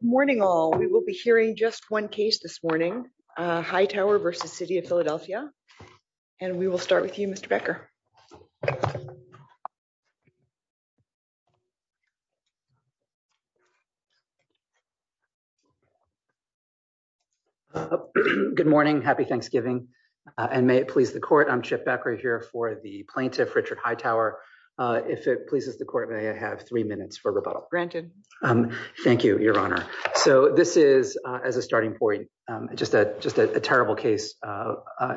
Good morning, all. We will be hearing just one case this morning, Hightower v. City of Philadelphia, and we will start with you, Mr. Becker. Good morning. Happy Thanksgiving, and may it please the court, I'm Chip Becker here for the plaintiff, Richard Hightower. If it pleases the court, may I have three minutes for rebuttal? Thank you, Your Honor. So this is, as a starting point, just a terrible case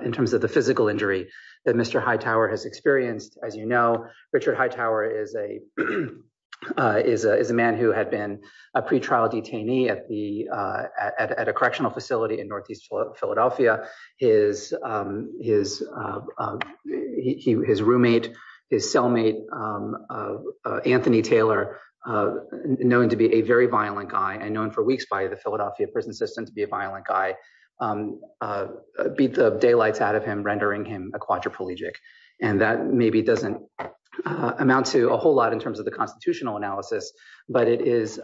in terms of the physical injury that Mr. Hightower has experienced. As you know, Richard Hightower is a man who had been a pretrial detainee at a correctional facility in northeast Philadelphia. His roommate, his cellmate, Anthony Taylor, known to be a very violent guy and known for weeks by the Philadelphia prison system to be a violent guy, beat the daylights out of him, rendering him a quadriplegic. And that maybe doesn't amount to a whole lot in terms of the constitutional analysis, but it is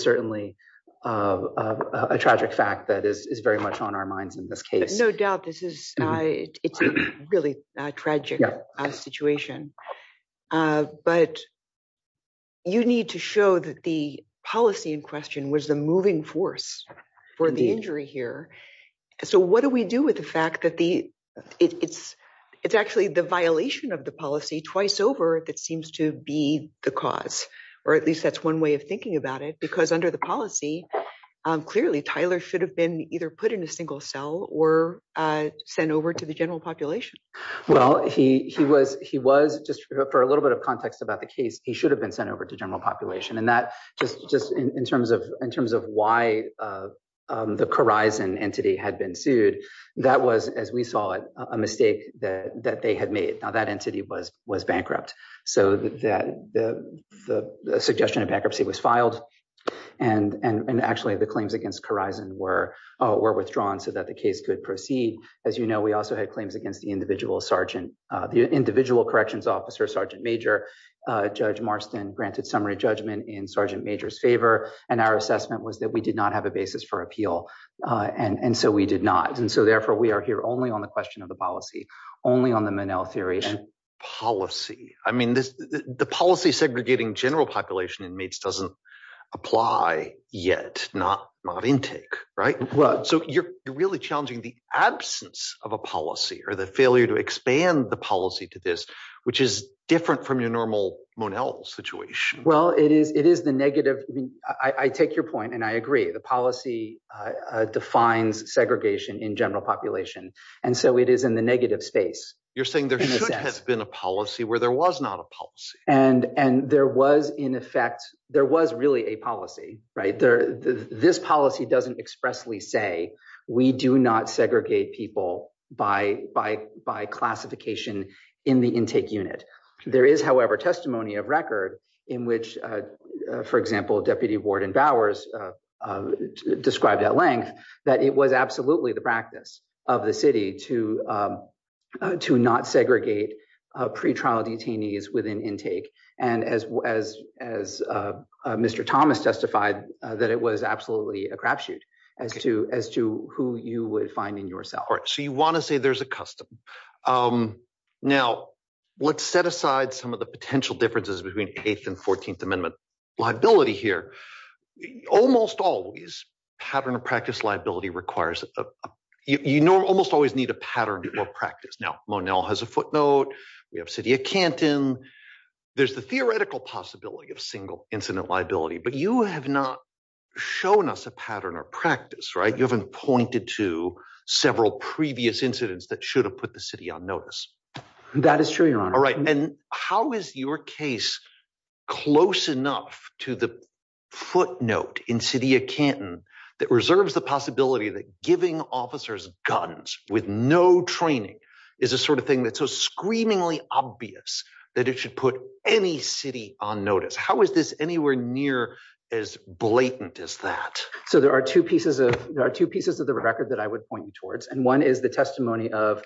certainly a tragic fact that is very much on our minds in this case. No doubt. This is a really tragic situation. But you need to show that the policy in question was the moving force for the injury here. So what do we do with the fact that it's actually the violation of the policy twice over that seems to be the cause, or at least that's one way of thinking about it, because under the policy, clearly, Tyler should have been either put in a single cell or sent over to the general population. Well, he was just, for a little bit of context about the case, he should have been sent over to general population. And that just in terms of why the Corizon entity had been sued, that was, as we saw it, a mistake that they had made. Now, that entity was bankrupt. So the suggestion of bankruptcy was filed. And actually, the claims against Corizon were withdrawn so that the case could proceed. As you know, we also had claims against the individual corrections officer, Sergeant Major. Judge Marston granted summary judgment in Sergeant Major's favor. And our assessment was that we did not have a basis for appeal. And so we did not. And so therefore, we are here only on the question of the policy, only on the Monell theory. Policy. I mean, the policy segregating general population inmates doesn't apply yet, not intake, right? So you're really challenging the absence of a policy or the failure to expand the policy to this, which is different from your normal Monell situation. Well, it is the negative. I mean, I take your point and I agree. The policy defines segregation in general population. And so it is in the negative space. You're saying there should have been a policy where there was not a policy. And there was in effect, there was really a policy, right? This policy doesn't expressly say we do not segregate people by classification in the intake unit. There is, however, testimony of record in which, for example, Deputy Warden Bowers described at length that it was absolutely the of the city to not segregate pretrial detainees within intake. And as Mr. Thomas testified, that it was absolutely a crapshoot as to who you would find in your cell. All right. So you want to say there's a custom. Now, let's set aside some of the potential differences between Eighth and Fourteenth Amendment liability here. Almost always, pattern of practice liability requires, you know, almost always need a pattern or practice. Now, Monell has a footnote. We have city of Canton. There's the theoretical possibility of single incident liability, but you have not shown us a pattern or practice, right? You haven't pointed to several previous incidents that should have put the city on notice. That is true, your honor. All right. And how is your case close enough to the footnote in city of Canton that reserves the possibility that giving officers guns with no training is a sort of thing that's so screamingly obvious that it should put any city on notice? How is this anywhere near as blatant as that? So there are two pieces of there are two pieces of the record that I would point you towards. And one is the testimony of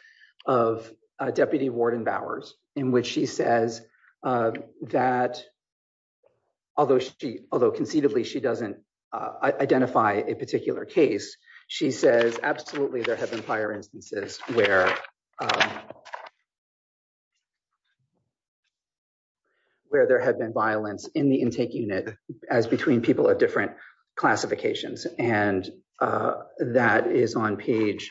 of Deputy Warden Bowers, in which she says that although she although conceivably she doesn't identify a particular case, she says, absolutely, there have been prior instances where there had been violence in the intake unit as between people of different classifications. And that is on page.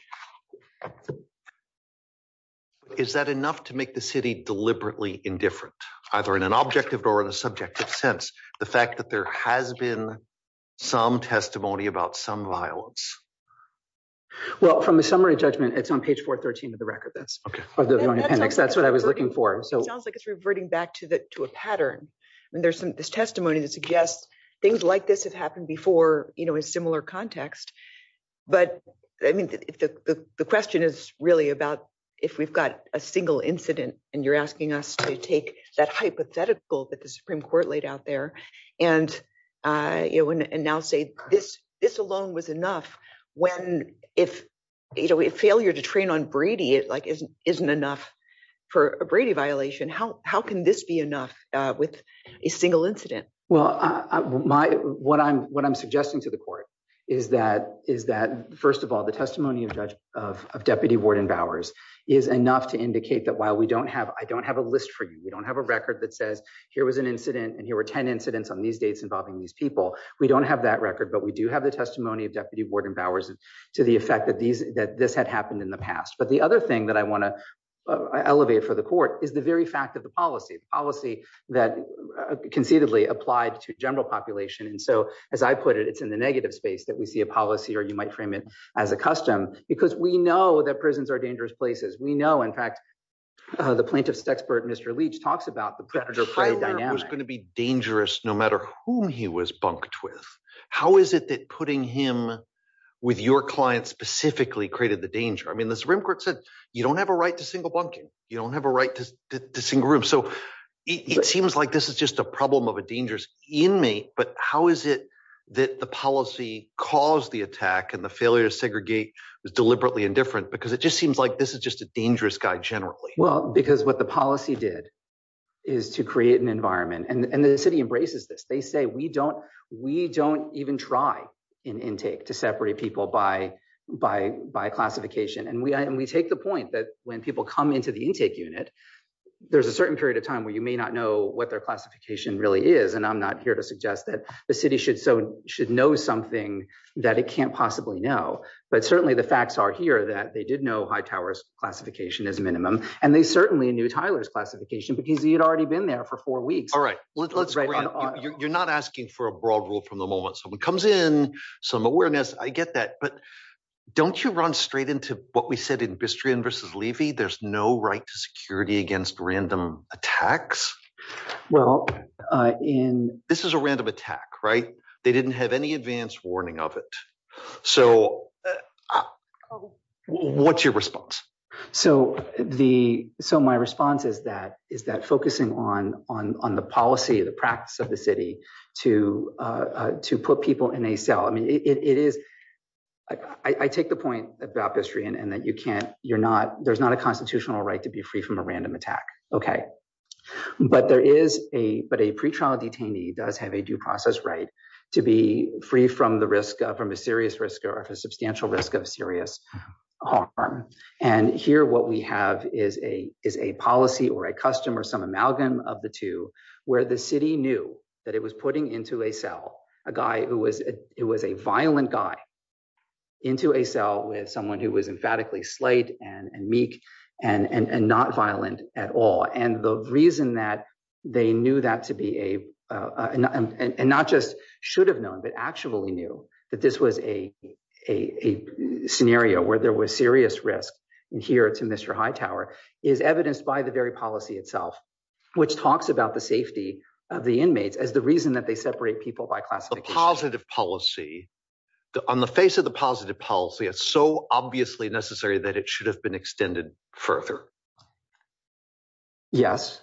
Is that enough to make the city deliberately indifferent, either in an objective or in a subjective sense, the fact that there has been some testimony about some violence? Well, from the summary judgment, it's on page 413 of the record. That's okay. That's what I was looking for. So it sounds like it's reverting back to the to a pattern. And there's some testimony that suggests things like this have happened before, you know, in similar context. But I mean, the question is really about if we've got a single incident, and you're asking us to take that hypothetical that the Supreme Court laid out there. And you know, and now say this, this alone was enough. When if, you know, we have failure to train on Brady, it like isn't isn't for a Brady violation. How can this be enough with a single incident? Well, my what I'm what I'm suggesting to the court is that is that first of all, the testimony of Deputy Warden Bowers is enough to indicate that while we don't have I don't have a list for you, we don't have a record that says here was an incident. And here were 10 incidents on these dates involving these people. We don't have that record. But we do have the testimony of Deputy Warden Bowers to the effect that these that this had happened in the past. But the other thing that I want to elevate for the court is the very fact of the policy policy that concededly applied to general population. And so as I put it, it's in the negative space that we see a policy or you might frame it as a custom because we know that prisons are dangerous places. We know in fact, the plaintiff's expert Mr. Leach talks about the predator was going to be dangerous no matter whom he was bunked with. How is it that putting him with your client specifically created the danger? I mean, the Supreme Court said, you don't have a right to single bunking, you don't have a right to single room. So it seems like this is just a problem of a dangerous inmate. But how is it that the policy caused the attack and the failure to segregate was deliberately indifferent? Because it just seems like this is just a dangerous guy generally? Well, because what the policy did is to create an environment and the city embraces this, they say we don't, we don't even try in intake to separate people by classification. And we take the point that when people come into the intake unit, there's a certain period of time where you may not know what their classification really is. And I'm not here to suggest that the city should know something that it can't possibly know. But certainly the facts are here that they did know Hightower's classification is minimum. And they certainly knew Tyler's classification because he had already been there for four weeks. All right. You're not asking for a broad rule from the moment someone comes in some awareness, I get that. But don't you run straight into what we said in Bistrian versus Levy, there's no right to security against random attacks. Well, in this is a random attack, right? They didn't have any advance warning of it. So what's your response? So the so my response is that focusing on the policy, the practice of the city to put people in a cell. I mean, it is, I take the point about Bistrian and that you can't, you're not, there's not a constitutional right to be free from a random attack. Okay. But there is a, but a pretrial detainee does have a due process right to be free from the risk, from a serious risk or a substantial risk of serious harm. And here, what we have is a, is a policy or a custom or some amalgam of the two where the city knew that it was putting into a cell, a guy who was, it was a violent guy into a cell with someone who was emphatically slight and meek and not violent at all. And the reason that they knew that to be a, and not just should have known, but actually knew that this was a scenario where there was serious risk. And here it's a Mr. Hightower is evidenced by the very policy itself, which talks about the safety of the inmates as the reason that they separate people by classification. The positive policy on the face of the positive policy, it's so obviously necessary that it should have been extended further. Yes.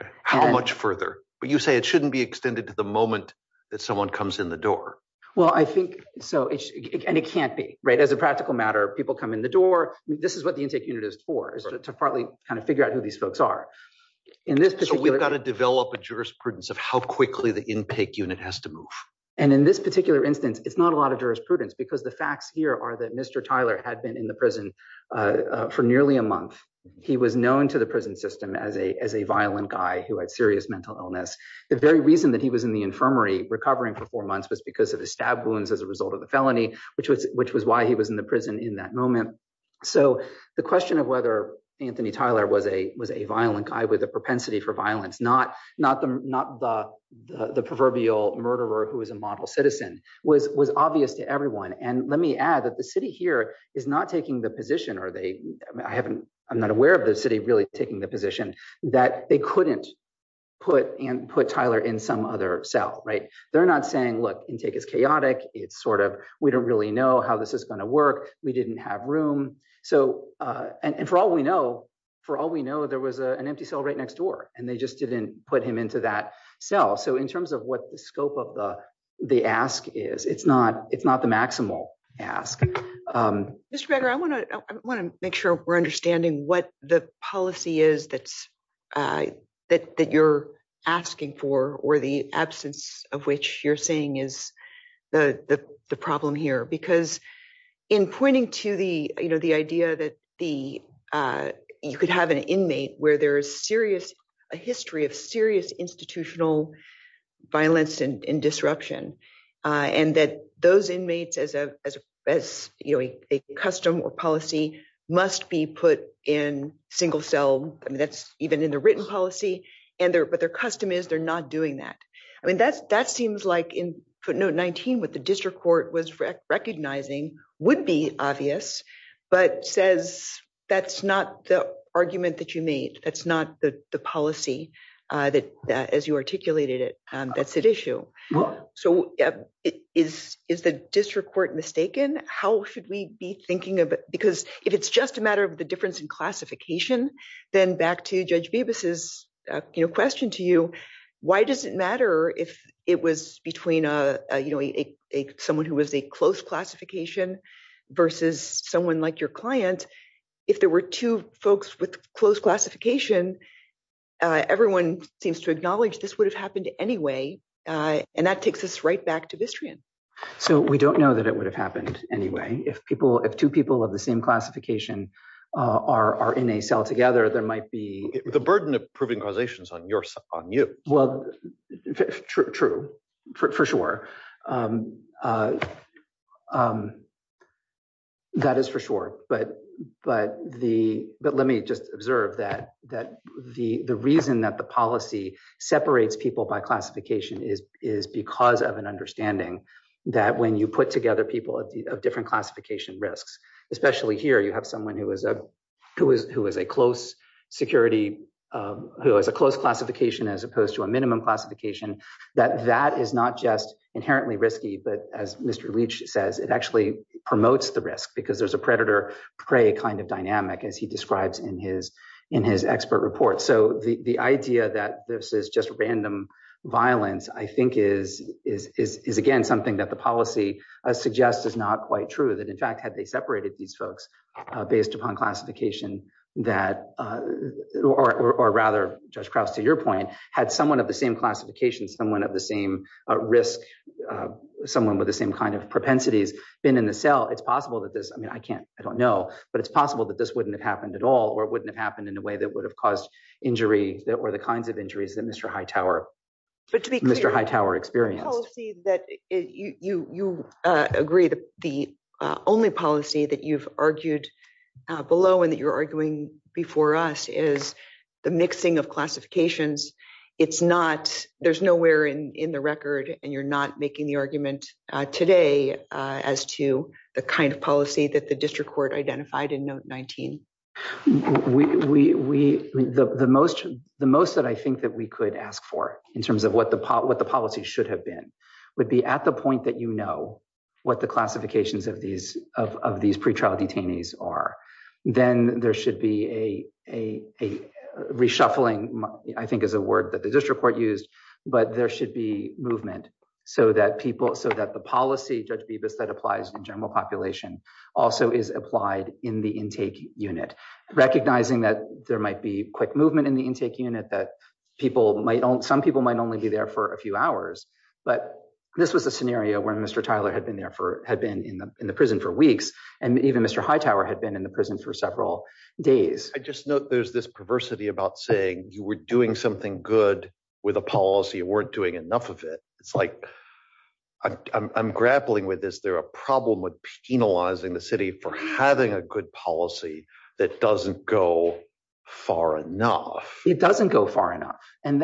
Okay. How much further, but you say it shouldn't be extended to the moment that someone comes in the door. Well, I think so. And it can't be right. As a practical matter, people come in the door. This is what the intake unit is for is to partly kind of figure out who these folks are in this particular. We've got to develop a jurisprudence of how quickly the intake unit has to move. And in this particular instance, it's not a lot of jurisprudence because the facts here are that Mr. Tyler had been in the prison for nearly a month. He was known to the prison system as a violent guy who had serious mental illness. The very reason that he was in the infirmary recovering for four months was because of the stab wounds as a result of the felony, which was why he was in the prison in that moment. So the question of whether Anthony Tyler was a violent guy with a propensity for violence, not the proverbial murderer who is a and let me add that the city here is not taking the position or I'm not aware of the city really taking the position that they couldn't put Tyler in some other cell, right? They're not saying, look, intake is chaotic. It's sort of, we don't really know how this is going to work. We didn't have room. And for all we know, there was an empty cell right next door and they just didn't put him into that cell. So in terms of what the scope of the ask is, it's not the maximal ask. Mr. Beggar, I want to make sure we're understanding what the policy is that you're asking for or the absence of which you're saying is the problem here. Because in pointing to the idea that you could have an inmate where there is a history of serious institutional violence and disruption, and that those inmates as a custom or policy must be put in single cell, I mean, that's even in the written policy, but their custom is they're not doing that. I mean, that seems like in footnote 19, what the district court was recognizing would be obvious, but says that's not the argument that you made. That's not the policy that as you articulated it, that's at issue. So is the district court mistaken? How should we be thinking of it? Because if it's just a matter of the difference in classification, then back to Judge Bibas's question to you, why does it matter if it was between someone who was a close classification versus someone like your client? If there were two folks with close classification, everyone seems to acknowledge this would have happened anyway. And that takes us right back to Vistrian. So we don't know that it would have happened anyway. If two people of the same classification are in a cell together, there might be... The burden of proving causation is on you. Well, true, for sure. That is for sure. But let me just observe that the reason that the policy separates people by classification is because of an understanding that when you put together people of different classification risks, especially here, you have someone who is a close security, who has a close classification as opposed to a minimum classification, that that is not just inherently risky, but as Mr. Leach says, it actually promotes the risk because there's a predator-prey kind of dynamic, as he describes in his expert report. So the idea that this is just random violence, I think is again, something that the policy suggests is quite true. That in fact, had they separated these folks based upon classification, or rather, Judge Krauss, to your point, had someone of the same classification, someone of the same risk, someone with the same kind of propensities been in the cell, it's possible that this... I can't, I don't know, but it's possible that this wouldn't have happened at all, or it wouldn't have happened in a way that would have caused injury that were the kinds of injuries that Mr. Hightower experienced. But to be clear, the policy that you agree, the only policy that you've argued below and that you're arguing before us is the mixing of classifications. It's not, there's nowhere in the record, and you're not making the argument today as to the kind of policy that the district court identified in note 19. We, the most that I think that we could ask for in terms of what the policy should have been, would be at the point that you know what the classifications of these pretrial detainees are, then there should be a reshuffling, I think is a word that the district court used, but there should be movement so that people, so that the policy, Judge Bibas, that applies in general population also is applied in the intake unit that people might, some people might only be there for a few hours, but this was a scenario where Mr. Tyler had been there for, had been in the prison for weeks, and even Mr. Hightower had been in the prison for several days. I just note there's this perversity about saying you were doing something good with a policy, you weren't doing enough of it. It's like, I'm grappling with, is there a problem with penalizing the city for having a good policy that doesn't go far enough? It doesn't go far enough, and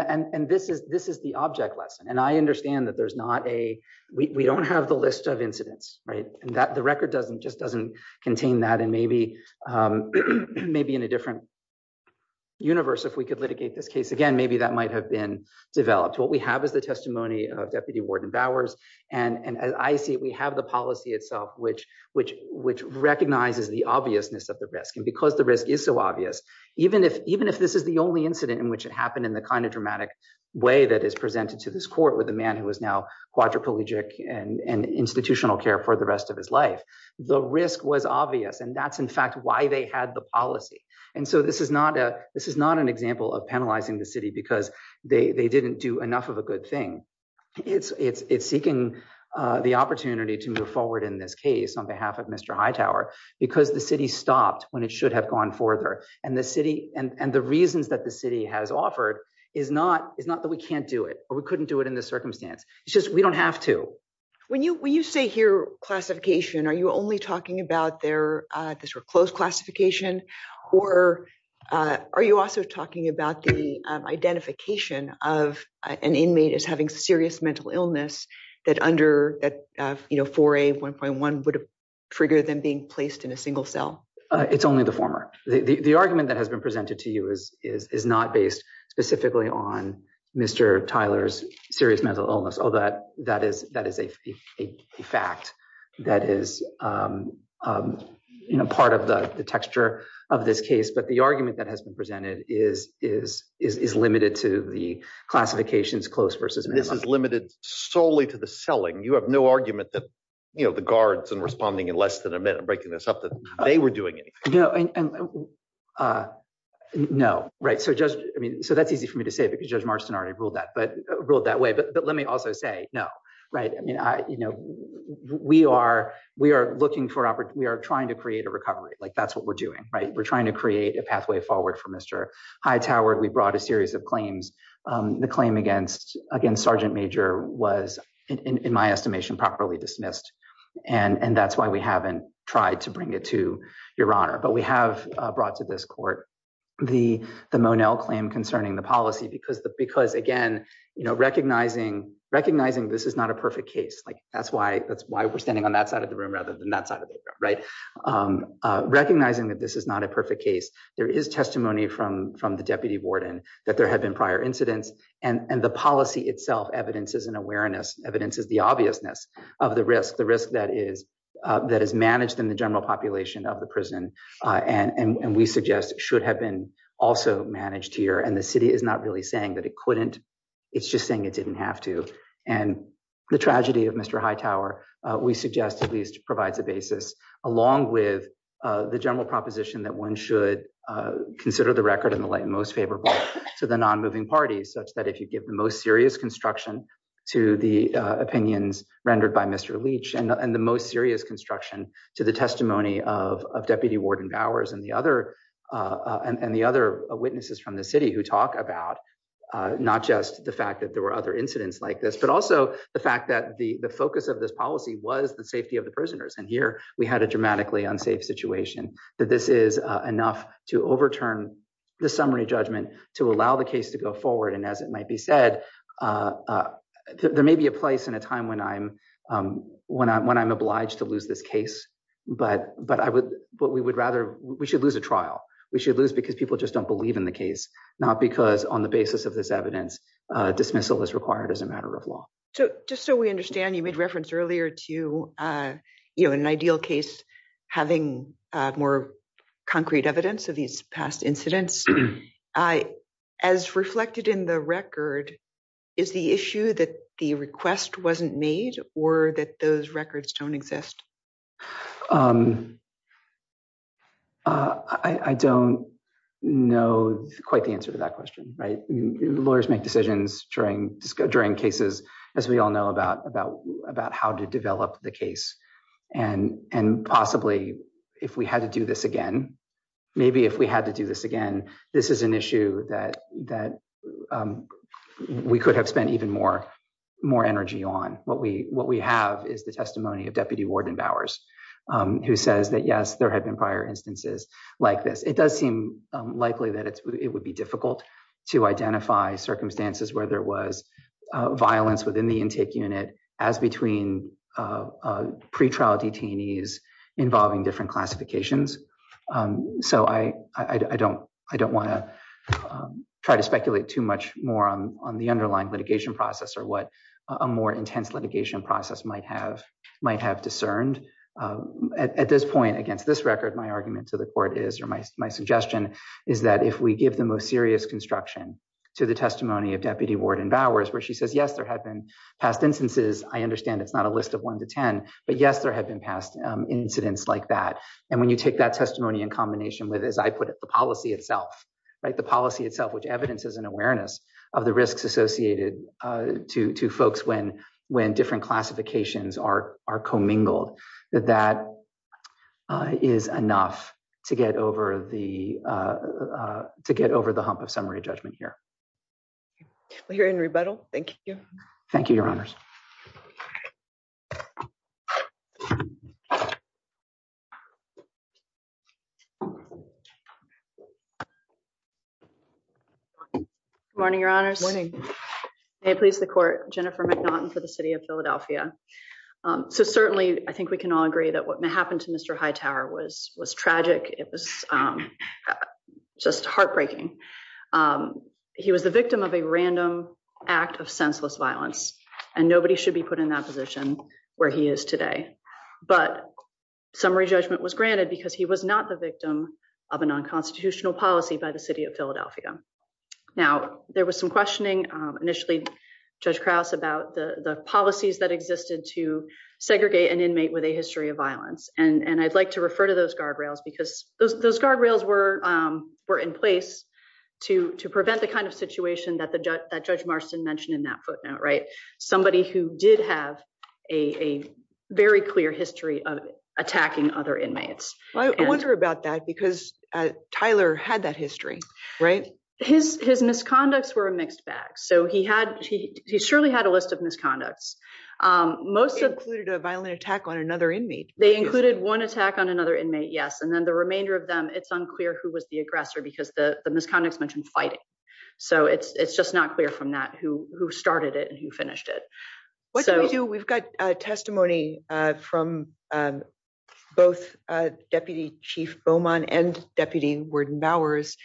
this is the object lesson, and I understand that there's not a, we don't have the list of incidents, right, and that the record doesn't, just doesn't contain that, and maybe in a different universe, if we could litigate this case again, maybe that might have been developed. What we have is the testimony of Deputy Warden Bowers, and as I see it, we have the policy itself, which recognizes the obviousness of the risk, and because the risk is so obvious, even if this is the only incident in which it happened in the kind of dramatic way that is presented to this court with a man who is now quadriplegic and institutional care for the rest of his life, the risk was obvious, and that's, in fact, why they had the policy, and so this is not a, this is not an example of penalizing the city because they didn't do enough of a good thing. It's seeking the opportunity to move forward in this case on behalf of Mr. Hightower because the city stopped when it should have gone further, and the city, and the reasons that the city has offered is not that we can't do it, or we couldn't do it in this circumstance. It's just we don't have to. When you say here classification, are you only talking about their, this sort of closed classification, or are you also talking about the identification of an inmate as having serious mental illness that under that, you know, 4A1.1 would have triggered them being placed in a single cell? It's only the former. The argument that has been presented to you is not based specifically on Mr. Tyler's serious mental illness, although that is a fact that is, you know, part of the texture of this case, but the argument that has been presented is limited to the classifications close versus minimum. This is solely to the selling. You have no argument that, you know, the guards in responding in less than a minute, breaking this up, that they were doing anything. No, right, so just, I mean, so that's easy for me to say because Judge Marston already ruled that, but ruled that way, but let me also say no, right? I mean, I, you know, we are, we are looking for, we are trying to create a recovery, like that's what we're doing, right? We're trying to create a pathway forward for Mr. Hightower. We brought a series of claims. The claim against, against Sergeant Major was, in my estimation, properly dismissed, and that's why we haven't tried to bring it to your honor, but we have brought to this court the, the Monell claim concerning the policy because, because again, you know, recognizing, recognizing this is not a perfect case, like that's why, that's why we're standing on that side of the room rather than that side of the room, right? Recognizing that this is not a perfect case. There is testimony from, from the Deputy Warden that there had been prior incidents, and, and the policy itself evidences an awareness, evidences the obviousness of the risk, the risk that is, that is managed in the general population of the prison, and, and we suggest should have been also managed here, and the city is not really saying that it couldn't, it's just saying it didn't have to, and the tragedy of Mr. Hightower, we suggest at least provides a basis, along with the general proposition that one should consider the record in the light most favorable to the non-moving parties, such that if you give the most serious construction to the opinions rendered by Mr. Leach, and the most serious construction to the testimony of, of Deputy Warden Bowers, and the other, and the other witnesses from the city who talk about not just the fact that there were other incidents like this, but also the fact that the, focus of this policy was the safety of the prisoners, and here we had a dramatically unsafe situation, that this is enough to overturn the summary judgment to allow the case to go forward, and as it might be said, there may be a place in a time when I'm, when I'm, when I'm obliged to lose this case, but, but I would, but we would rather, we should lose a trial. We should lose because people just don't believe in the case, not because on the basis of this evidence, dismissal is required as a matter of law. So, just so we understand, you made reference earlier to, you know, an ideal case having more concrete evidence of these past incidents. As reflected in the record, is the issue that the request wasn't made, or that those records don't exist? I, I don't know quite the answer to that question, right? Lawyers make decisions during, during cases, as we all know about, about, about how to develop the case, and, and possibly if we had to do this again, maybe if we had to do this again, this is an issue that, that we could have spent even more, more energy on. What we, what we have is the testimony of Deputy Warden Bowers, who says that, yes, there had been prior instances like this. It does seem likely that it's, it would be difficult to identify circumstances where there was violence within the intake unit, as between pre-trial detainees involving different classifications. So, I, I don't, I don't want to try to speculate too much more on, on the underlying litigation process, or what a more intense litigation process might have, might have discerned. At this point, against this record, my argument to the court is, or my, my suggestion is that if we give the most serious construction to the testimony of Deputy Warden Bowers, where she says, yes, there have been past instances, I understand it's not a list of one to ten, but yes, there have been past incidents like that. And when you take that testimony in combination with, as I put it, the policy itself, right, the policy itself, which evidences an awareness of the risks associated to, to folks when, when different classifications are, are commingled, that that is enough to get over the, to get over the hump of summary judgment here. We're in rebuttal. Thank you. Thank you, Your Honors. Morning, Your Honors. Morning. May it please the court, Jennifer McNaughton for the City of Philadelphia. So, certainly, I think we can all agree that what happened to Mr. Hightower was, was tragic. It was just heartbreaking. He was the victim of a random act of senseless violence, and nobody should be put in that position where he is today. But summary judgment was granted because he was not the victim of a non-constitutional policy by the City of Philadelphia. Now, there was some questioning initially, Judge Krause, about the, the policies that existed to segregate an inmate with a history of violence. And, and I'd like to refer to those guardrails because those, those guardrails were, were in place to, to prevent the kind of situation that the, that Judge Marston mentioned in that footnote, right? Somebody who did have a very clear history of attacking other inmates. I wonder about that because Tyler had that history, right? His, his misconducts were a mixed bag. So he had, he surely had a list of misconducts. Most of- They included a violent attack on another inmate. They included one attack on another inmate, yes. And then the remainder of them, it's unclear who was the aggressor because the, the misconducts mentioned fighting. So it's, it's just not clear from that who, who started it and who finished it. So- What do we do? We've got testimony from both Deputy Chief Beaumont and Deputy Warden Bowers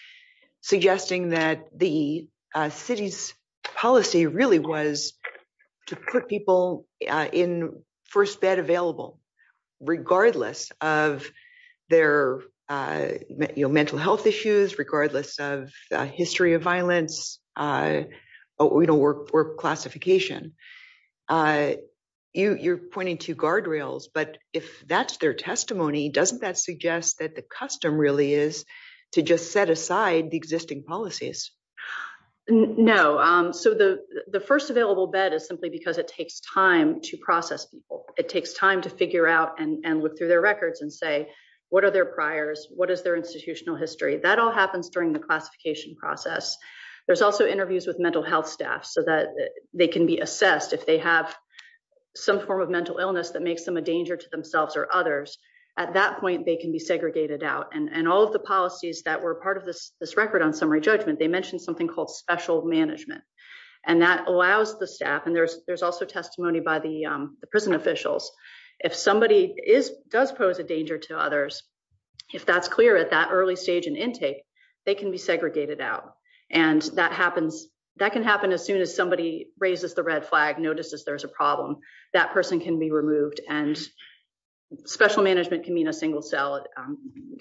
suggesting that the city's policy really was to put people in first bed available, regardless of their, you know, mental health issues, regardless of history of violence, you know, work, work classification. You, you're pointing to guardrails, but if that's their testimony, doesn't that suggest that the custom really is to just set aside the existing policies? No. So the, the first available bed is simply because it takes time to process people. It takes time to figure out and look through their records and say, what are their priors? What is their institutional history? That all happens during the classification process. There's also interviews with mental health staff so that they can be assessed if they have some form of mental or others. At that point, they can be segregated out and, and all of the policies that were part of this, this record on summary judgment, they mentioned something called special management and that allows the staff. And there's, there's also testimony by the prison officials. If somebody is, does pose a danger to others, if that's clear at that early stage in intake, they can be segregated out. And that happens, that can happen as soon as somebody raises the red flag, notices there's a problem, that person can be removed and special management can mean a single cell.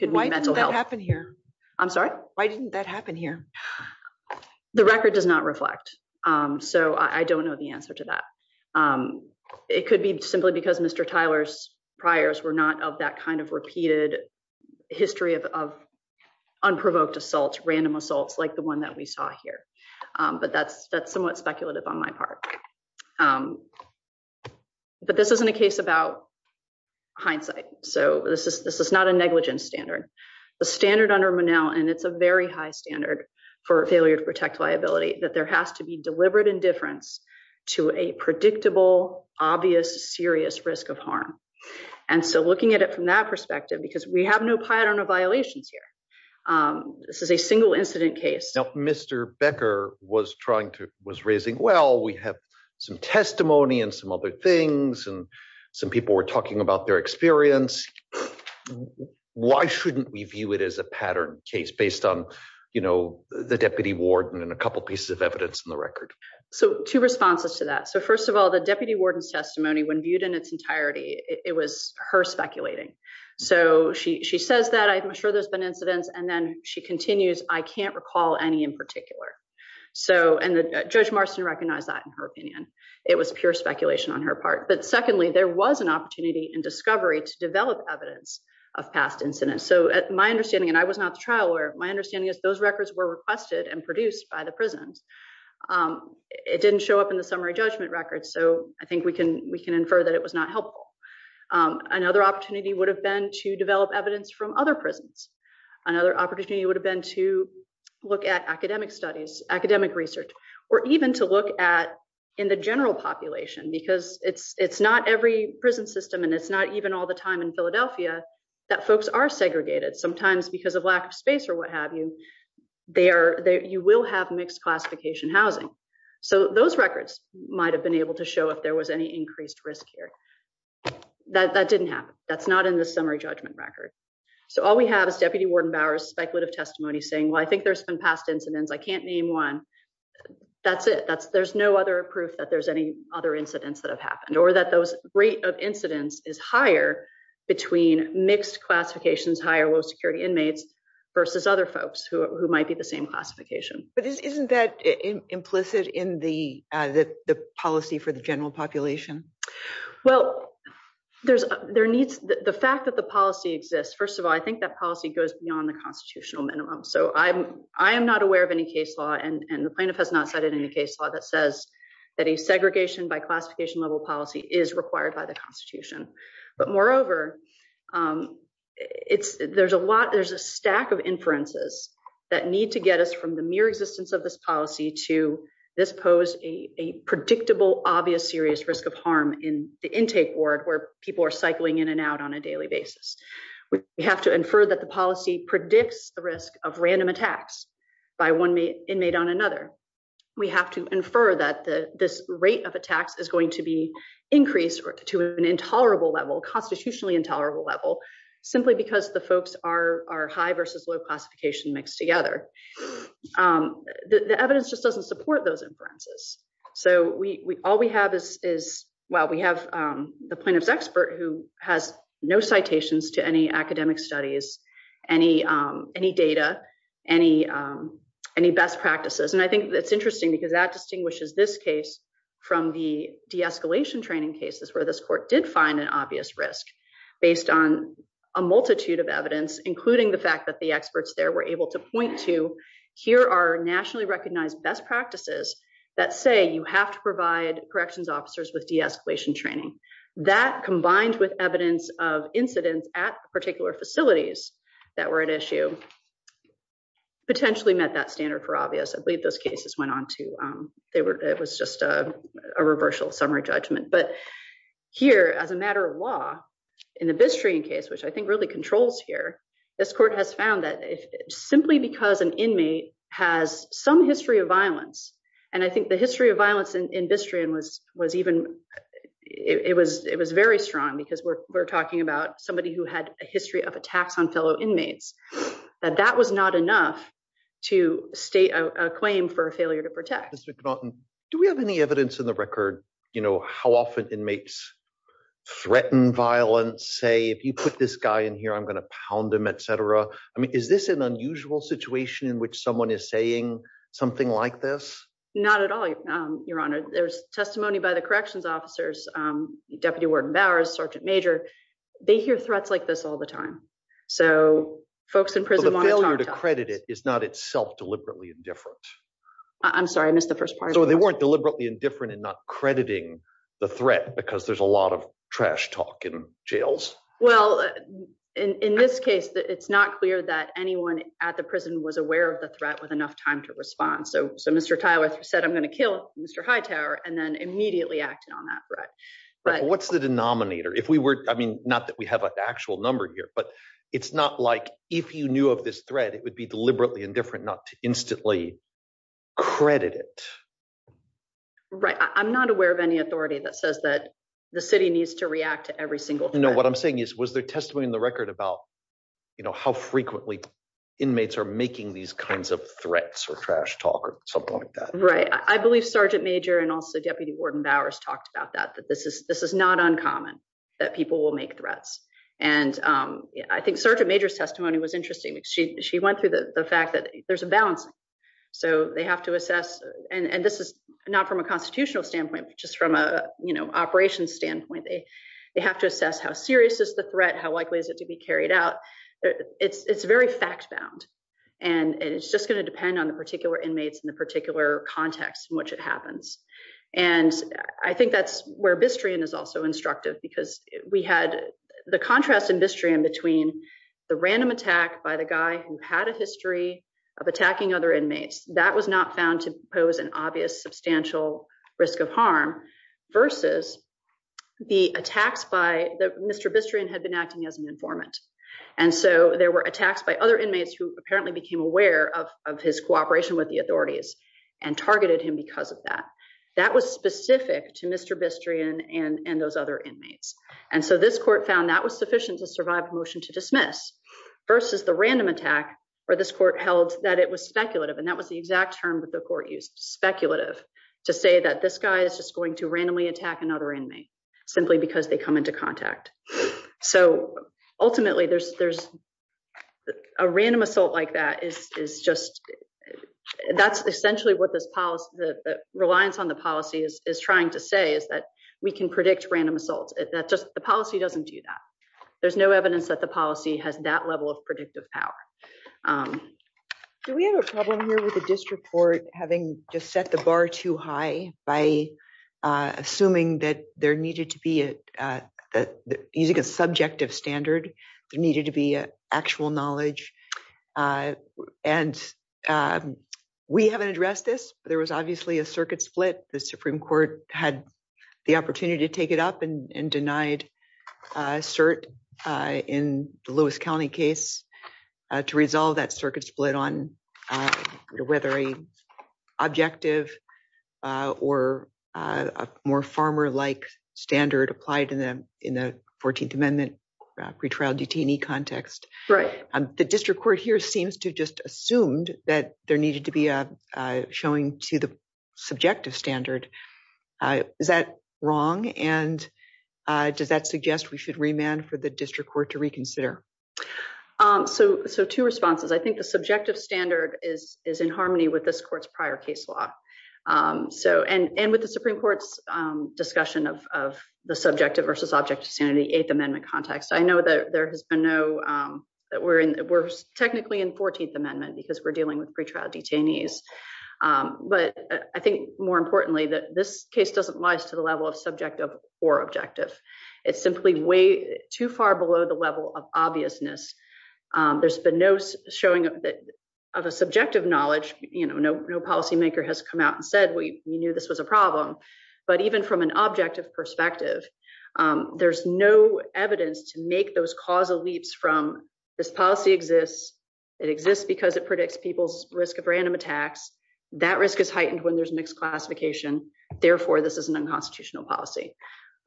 Why didn't that happen here? I'm sorry? Why didn't that happen here? The record does not reflect. So I don't know the answer to that. It could be simply because Mr. Tyler's priors were not of that kind of repeated history of, of unprovoked assaults, random assaults like the one that we saw here. But that's, that's somewhat speculative on my part. But this isn't a case about hindsight. So this is, this is not a negligence standard. The standard under Monell, and it's a very high standard for failure to protect liability, that there has to be deliberate indifference to a predictable, obvious, serious risk of harm. And so looking at it from that perspective, because we have no pattern of violations here. This is a single incident case. Now, Mr. Becker was trying to, was raising, well, we have some testimony and some other things, and some people were talking about their experience. Why shouldn't we view it as a pattern case based on, you know, the deputy warden and a couple pieces of evidence in the record? So two responses to that. So first of all, the deputy warden's testimony when viewed in its entirety, it was her speculating. So she says that I'm sure there's been incidents. And then she continues, I can't recall any in particular. So, and Judge Marston recognized that in her opinion. It was pure speculation on her part. But secondly, there was an opportunity in discovery to develop evidence of past incidents. So my understanding, and I was not the trial lawyer, my understanding is those records were requested and produced by the prisons. It didn't show up in the summary judgment records. So I think we can, we can infer that it was not helpful. Another opportunity would have been to develop evidence from other prisons. Another opportunity would have been to look at academic studies, academic research, or even to look at, in the general population, because it's, it's not every prison system, and it's not even all the time in Philadelphia, that folks are segregated. Sometimes because of lack of space or what have you, they are, you will have mixed classification housing. So those records might have been able to show if there was any increased risk here. That, that didn't happen. That's not in the summary judgment record. So all we have is Deputy Warden Bower's speculative testimony saying, well, I think there's been past incidents. I can't name one. That's it. That's, there's no other proof that there's any other incidents that have happened or that those rate of incidents is higher between mixed classifications, higher, low security inmates versus other folks who might be the same classification. But isn't that implicit in the, the policy for the general population? Well, there's, there needs, the fact that the policy exists, first of all, I think that policy goes beyond the constitutional minimum. So I'm, I am not aware of any case law, and the plaintiff has not cited any case law that says that a segregation by classification level policy is required by the constitution. But moreover, it's, there's a lot, there's a stack of inferences that need to get us from the mere existence of this policy to this pose a predictable, obvious, serious risk of harm in the intake ward where people are cycling in and out on a daily basis. We have to infer that the policy predicts the risk of random attacks by one inmate on another. We have to infer that the, this rate of attacks is going to be increased or to an intolerable level, constitutionally intolerable level, simply because the folks are, are high versus low classification mixed together. The evidence just doesn't support those inferences. So we, all we have is, is, well, we have the plaintiff's expert who has no citations to any academic studies, any, any data, any, any best practices. And I think that's interesting because that distinguishes this case from the de-escalation training cases where this court did find an obvious risk based on a multitude of evidence, including the fact that the experts there were able to point to, here are nationally recognized best practices that say you have to provide corrections officers with de-escalation training. That combined with evidence of incidents at particular facilities that were at issue, potentially met that standard for obvious. I believe those cases went on to, they were, it was just a, a reversal summary judgment. But here as a matter of law, in the Bistring case, which I think really controls here, this court has found that if simply because an inmate has some history of violence, and I think the history of violence in, in Bistring was, was even, it was, it was very strong because we're, we're talking about somebody who had a history of attacks on fellow inmates, that that was not enough to state a claim for a failure to protect. Mr. McNaughton, do we have any evidence in the record, you know, how often inmates threaten violence? Say, if you put this guy in here, I'm going to pound him, et cetera. I mean, is this an unusual situation in which someone is saying something like this? Not at all, Your Honor. There's testimony by the corrections officers, Deputy Warden Bowers, Sergeant Major, they hear threats like this all the time. So, folks in prison want to talk. But the failure to credit it is not itself deliberately indifferent. I'm sorry, I missed the first part. So they weren't deliberately indifferent in not crediting the threat because there's a lot of trash talk in jails. Well, in this case, it's not clear that anyone at the prison was aware of the threat with enough time to respond. So, so Mr. Tyler said, I'm going to kill Mr. Hightower and then immediately acted on that threat. Right. What's the denominator? If we were, I mean, not that we have an actual number here, but it's not like if you knew of this threat, it would be deliberately indifferent not to instantly credit it. Right. I'm not aware of any authority that says that the city needs to react to every single thing. No, what I'm saying is, was there testimony in the record about, you know, how frequently inmates are making these kinds of threats or trash talk or something like that? Right. I believe Sergeant Major and also Deputy Warden Bowers talked about that, that this is not uncommon that people will make threats. And I think Sergeant Major's testimony was interesting. She went through the fact that there's a balance. So they have to assess, and this is not from a constitutional standpoint, just from a, you know, operations standpoint, they, they have to assess how serious is the threat, how likely is it to be carried out? It's, it's very fact bound. And it's just going to depend on the particular inmates in the particular context in which it happens. And I think that's where Bistrian is also instructive because we had the contrast in Bistrian between the random attack by the guy who had a history of attacking other inmates that was not found to pose an obvious substantial risk of harm versus the attacks by the, Mr. Bistrian had been acting as an informant. And so there were attacks by other inmates who apparently became aware of, of his cooperation with the authorities and targeted him because of that. That was specific to Mr. Bistrian and, and those other inmates. And so this court found that was sufficient to survive a motion to dismiss versus the random attack where this court held that it was speculative. And that was the exact term that the court used, speculative, to say that this guy is just going to randomly attack another inmate simply because they come into contact. So ultimately there's, there's a random assault like that is, is just, that's essentially what this policy, the reliance on the policy is, is trying to say is that we can predict random assaults. That just, the policy doesn't do that. There's no evidence that the policy has that level of predictive power. Do we have a problem here with the district court having just set the bar too high by assuming that there needed to be a, using a subjective standard, there needed to be actual knowledge. And we haven't addressed this, but there was obviously a circuit split. The Supreme to resolve that circuit split on whether a objective or a more farmer-like standard applied to them in the 14th amendment pretrial detainee context. The district court here seems to just assumed that there needed to be a showing to the subjective standard. Is that wrong? And does that suggest we should remand for the district court to reconsider? So, so two responses. I think the subjective standard is, is in harmony with this court's prior case law. So, and, and with the Supreme court's discussion of, of the subjective versus objective sanity eighth amendment context. I know that there has been no, that we're in, we're technically in 14th amendment because we're dealing with pretrial detainees. But I think more importantly, that this case doesn't rise to the level of subjective or objective. It's simply way too far below the level of obviousness. There's been no showing of a subjective knowledge. You know, no, no policymaker has come out and said, we knew this was a problem, but even from an objective perspective there's no evidence to make those causal leaps from this policy exists. It exists because it predicts people's risk of random attacks. That risk is heightened when there's mixed classification. Therefore, this is an unconstitutional policy.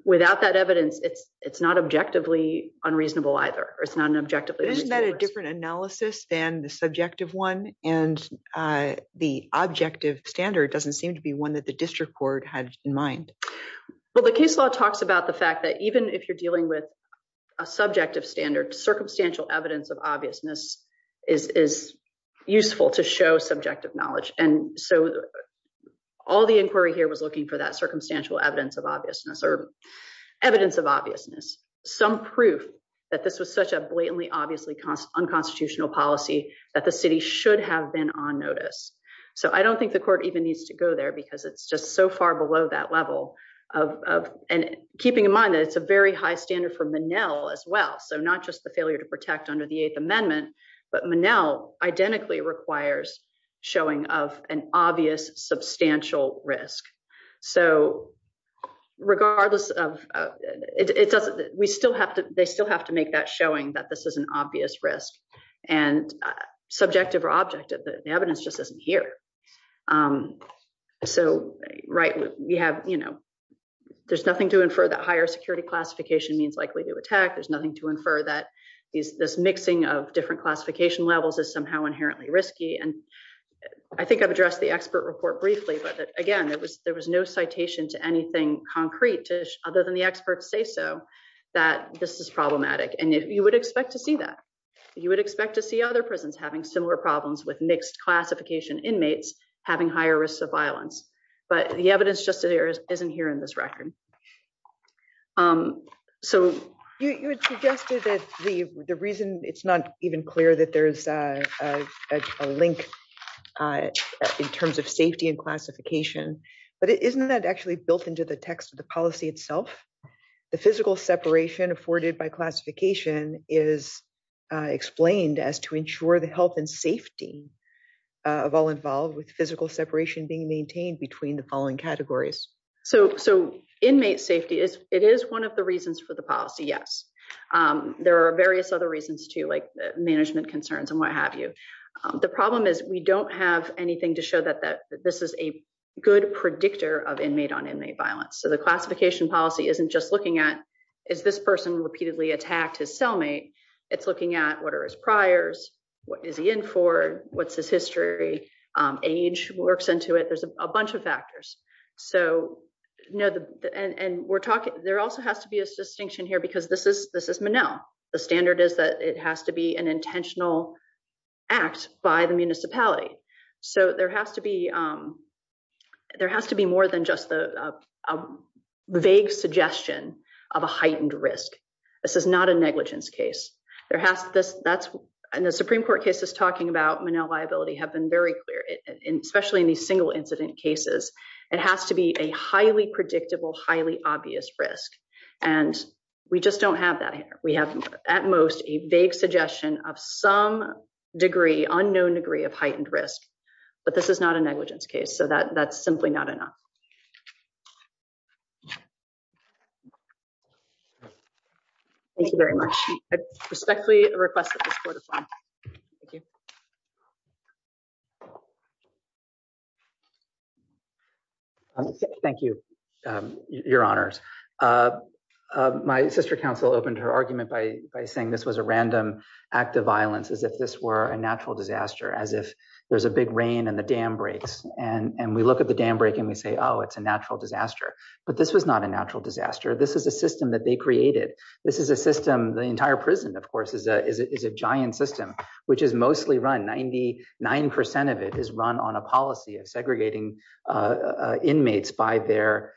Without that evidence, it's, it's not objectively unreasonable either, or it's not an objective. Isn't that a different analysis than the subjective one and the objective standard doesn't seem to be one that the district court had in mind. Well, the case law talks about the fact that even if you're dealing with a subjective standard, circumstantial evidence of obviousness is, is useful to show subjective knowledge. And so all the inquiry here was looking for that circumstantial evidence of obviousness or evidence of obviousness, some proof that this was such a blatantly, obviously unconstitutional policy that the city should have been on notice. So I don't think the court even needs to go there because it's just so far below that level of, of, and keeping in mind that it's a very high standard for Menel as well. So not just the failure to protect under the eighth amendment, but Menel identically requires showing of an substantial risk. So regardless of it, it doesn't, we still have to, they still have to make that showing that this is an obvious risk and subjective or objective, the evidence just isn't here. So, right. We have, you know, there's nothing to infer that higher security classification means likely to attack. There's nothing to infer that these, this mixing of different classification levels is somehow inherently risky. And I think I've addressed the expert report briefly, but again, it was, there was no citation to anything concrete to other than the experts say so that this is problematic. And if you would expect to see that you would expect to see other prisons having similar problems with mixed classification inmates, having higher risks of violence, but the evidence just isn't here in this record. So you had suggested that the reason it's not even clear that there's a link in terms of safety and classification, but it isn't that actually built into the text of the policy itself. The physical separation afforded by classification is explained as to ensure the health and safety of all involved with physical separation being maintained between the following categories. So, so inmate safety is, it is one of the reasons for the policy. Yes. There are various other reasons too, like management concerns and what have you. The problem is we don't have anything to show that, that this is a good predictor of inmate on inmate violence. So the classification policy isn't just looking at, is this person repeatedly attacked his cellmate? It's looking at what are his priors? What is he in for? What's his history? Age works into it. There's a bunch of factors. So, you know, and we're talking, there also has to be a distinction here because this is, this is Monell. The standard is that it has to be an intentional act by the municipality. So there has to be, there has to be more than just the vague suggestion of a heightened risk. This is not a negligence case. There has this, that's, and the Supreme Court cases talking about Monell liability have been very clear, especially in these single incident cases. It has to be a highly predictable, highly obvious risk. And we just don't have that here. We have at most a vague suggestion of some degree, unknown degree of heightened risk, but this is not a negligence case. So that that's simply not enough. Thank you very much. I respectfully request that this court is on. Thank you. Thank you, your honors. My sister counsel opened her argument by saying this was a random act of violence, as if this were a natural disaster, as if there's a big rain and the dam breaks. And we look at the dam break and we say, oh, it's a natural disaster. But this was not a natural disaster. This is a system that they created. This is a system, the entire prison, of course, is a giant system, which is mostly run. Ninety nine percent of it is run on a policy of segregating inmates by their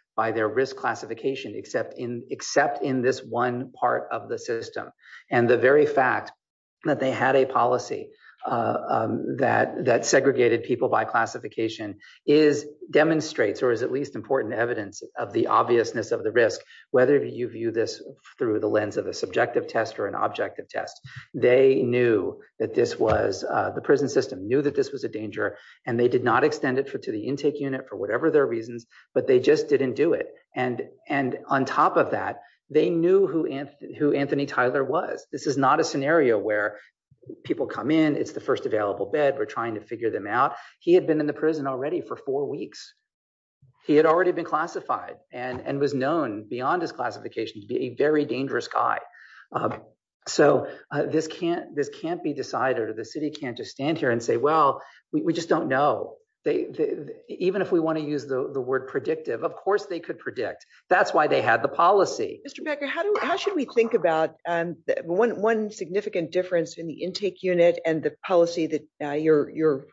risk classification, except in this one part of the system. And the very fact that they had a policy that segregated people by classification is demonstrates or is at least important evidence of the obviousness of the risk, whether you view this through the lens of a subjective test or an objective test. They knew that this was the prison system, knew that this was a danger, and they did not extend it to the intake unit for whatever their reasons, but they just didn't do it. And on top of that, they knew who Anthony Tyler was. This is not a scenario where people come in. It's the first available bed. We're trying to figure them out. He had been in the prison already for four weeks. He had already been classified and was known beyond his classification to be a very dangerous guy. So this can't be decided or the city can't just stand here and say, well, we just don't know. Even if we want to use the word predictive, of course they could predict. That's why they had the policy. Mr. Becker, how should we think about one significant difference in the intake unit and the policy that you're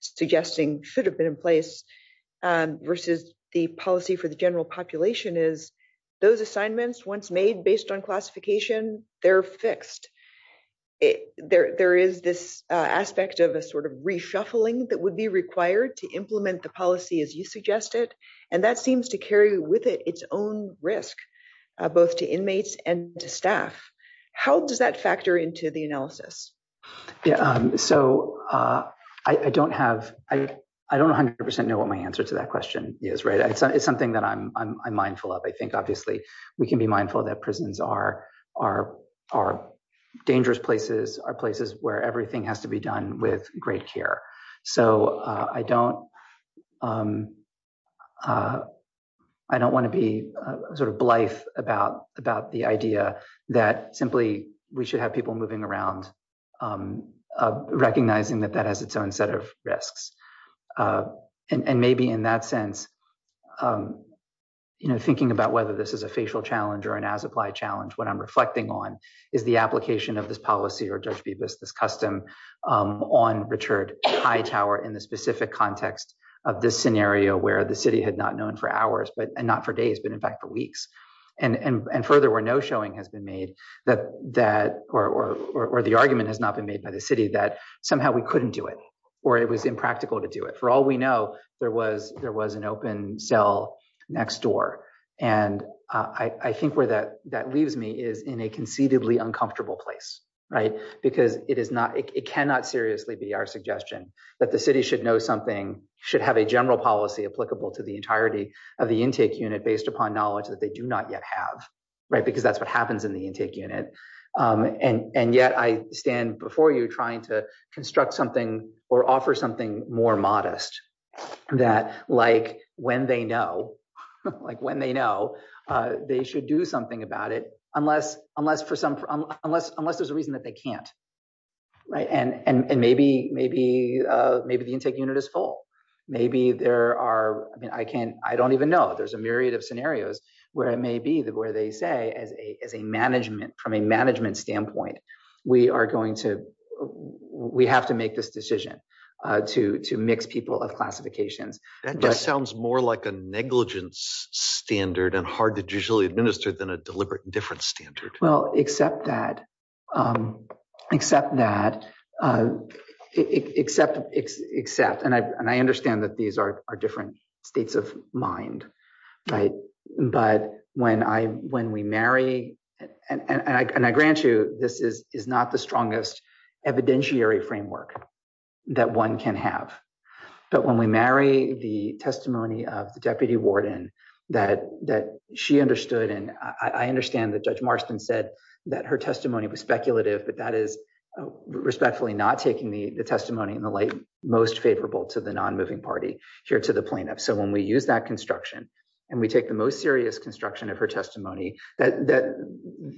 suggesting should have been in place versus the policy for the general population is those assignments once made based on classification, they're fixed. There is this aspect of a sort of reshuffling that would be required to implement the policy as you suggested, and that seems to carry with it its own risk, both to inmates and to staff. How does that the analysis? I don't 100% know what my answer to that question is. It's something that I'm mindful of. I think obviously we can be mindful that prisons are dangerous places, are places where everything has to be done with great care. I don't want to be sort of blithe about the idea that simply we should have people moving around, recognizing that that has its own set of risks. Maybe in that sense, thinking about whether this is a facial challenge or an as-applied challenge, what I'm reflecting on is the application of this policy or Judge Bibas, this custom on Richard High Tower in the specific context of this scenario where the city had not known for hours and not for days, but in fact, weeks. Further, where no showing has been made or the argument has not been made by the city that somehow we couldn't do it or it was impractical to do it. For all we know, there was an open cell next door. I think where that leaves me is in a conceivably uncomfortable place, because it cannot seriously be our suggestion that the city should know something, should have a general policy applicable to the entirety of the intake unit based upon knowledge that they do not yet have, because that's what happens in the intake unit. Yet I stand before you trying to construct something or offer something more modest, that when they know, they should do something about it, unless there's a reason that they can't. Maybe the intake unit is full, maybe there are, I mean, I can't, I don't even know. There's a myriad of scenarios where it may be that where they say as a management, from a management standpoint, we are going to, we have to make this decision to mix people of classifications. That just sounds more like a negligence standard and hard to usually administer than a deliberate indifference standard. Well, except that, except that, except, and I understand that these are different states of mind, right? But when we marry, and I grant you, this is not the strongest evidentiary framework that one can have. But when we marry the testimony of the deputy warden that she understood, and I understand that Judge Marston said that her testimony was speculative, but that is respectfully not taking the testimony in the light most favorable to the non-moving party here to the plaintiff. So when we use that construction, and we take the most serious construction of her testimony, that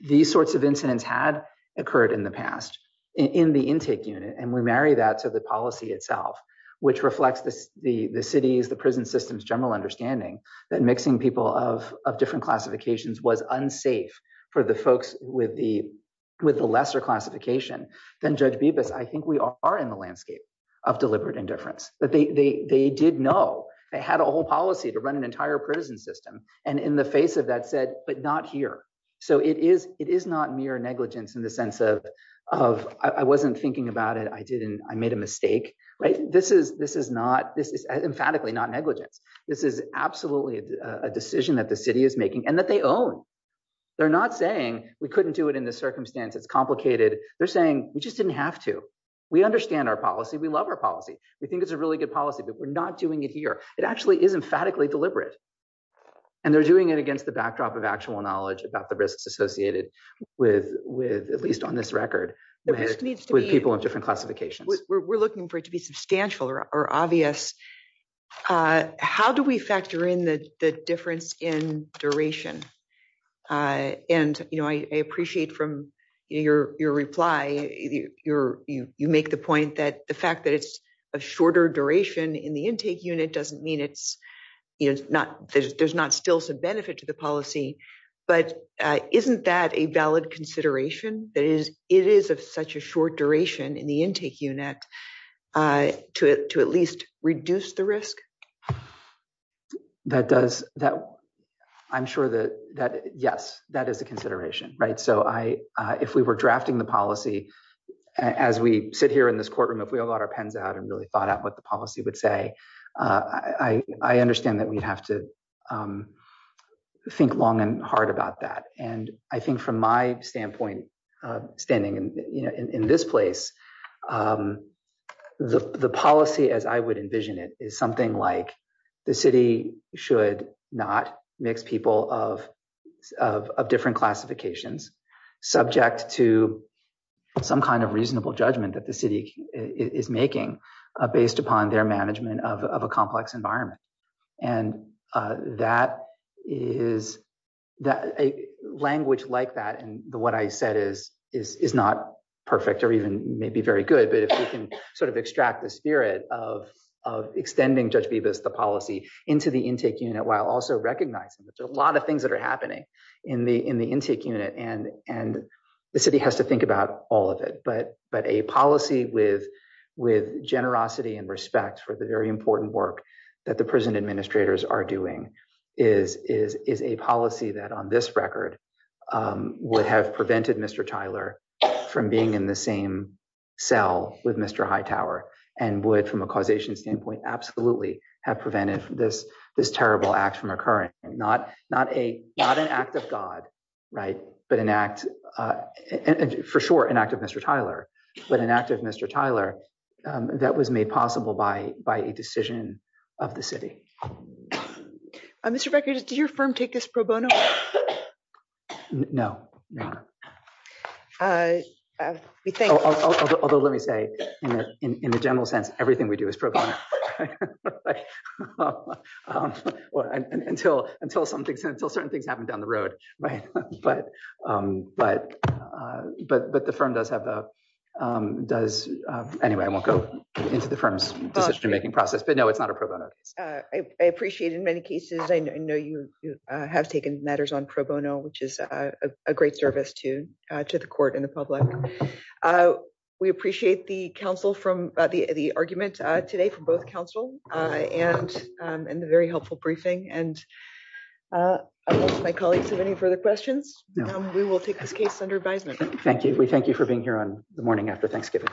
these sorts of incidents had occurred in the past in the intake unit, and we marry that to the policy itself, which reflects the city's, the prison system's general understanding that mixing people of different classifications was unsafe for the folks with the lesser classification, then Judge Bibas, I think we are in the landscape of deliberate indifference. But they did know, they had a whole policy to run an entire prison system, and in the face of that said, but not here. So it is not mere negligence in the sense of, I wasn't thinking about it, I made a mistake. This is not, this is emphatically not negligence. This is absolutely a decision that the city is making, and that they own. They're not saying, we couldn't do it in this circumstance, it's complicated. They're saying, we just didn't have to. We understand our policy, we love our policy. We think it's a really good policy, but we're not doing it here. It actually is emphatically deliberate. And they're doing it with people of different classifications. We're looking for it to be substantial or obvious. How do we factor in the difference in duration? And I appreciate from your reply, you make the point that the fact that it's a shorter duration in the intake unit doesn't mean there's not still some benefit to the policy. But isn't that a valid consideration? That is, it is of such a short duration in the intake unit to at least reduce the risk? That does, I'm sure that, yes, that is a consideration. So if we were drafting the policy as we sit here in this courtroom, if we all got our pens out and really thought out what the policy would say, I understand that we'd have to think long and hard about that. And I think from my standpoint, standing in this place, the policy as I would envision it is something like the city should not mix people of different classifications subject to some kind of reasonable judgment that the city is making based upon their management of a complex environment. And that is that a language like that and what I said is not perfect or even maybe very good, but if we can sort of extract the spirit of extending Judge Bibas the policy into the intake unit while also recognizing that there are a lot of things that are happening in the intake unit, and the city has to think about all of it. But a policy with generosity and respect for the important work that the prison administrators are doing is a policy that on this record would have prevented Mr. Tyler from being in the same cell with Mr. Hightower and would from a causation standpoint absolutely have prevented this terrible act from occurring. Not an act of but an act for sure an act of Mr. Tyler, but an act of Mr. Tyler that was made possible by by a decision of the city. Mr. Becker, did your firm take this pro bono? No. Although let me say in the general sense, everything we do is pro bono. Right. Well, until certain things happen down the road, right? But the firm does have a does anyway, I won't go into the firm's decision making process, but no, it's not a pro bono. I appreciate in many cases, I know you have taken matters on pro bono, which is a great service to the court and the public. We appreciate the council from the argument today from both council and the very helpful briefing and I won't my colleagues have any further questions. We will take this case under advisement. Thank you. We thank you for being here on the morning after Thanksgiving.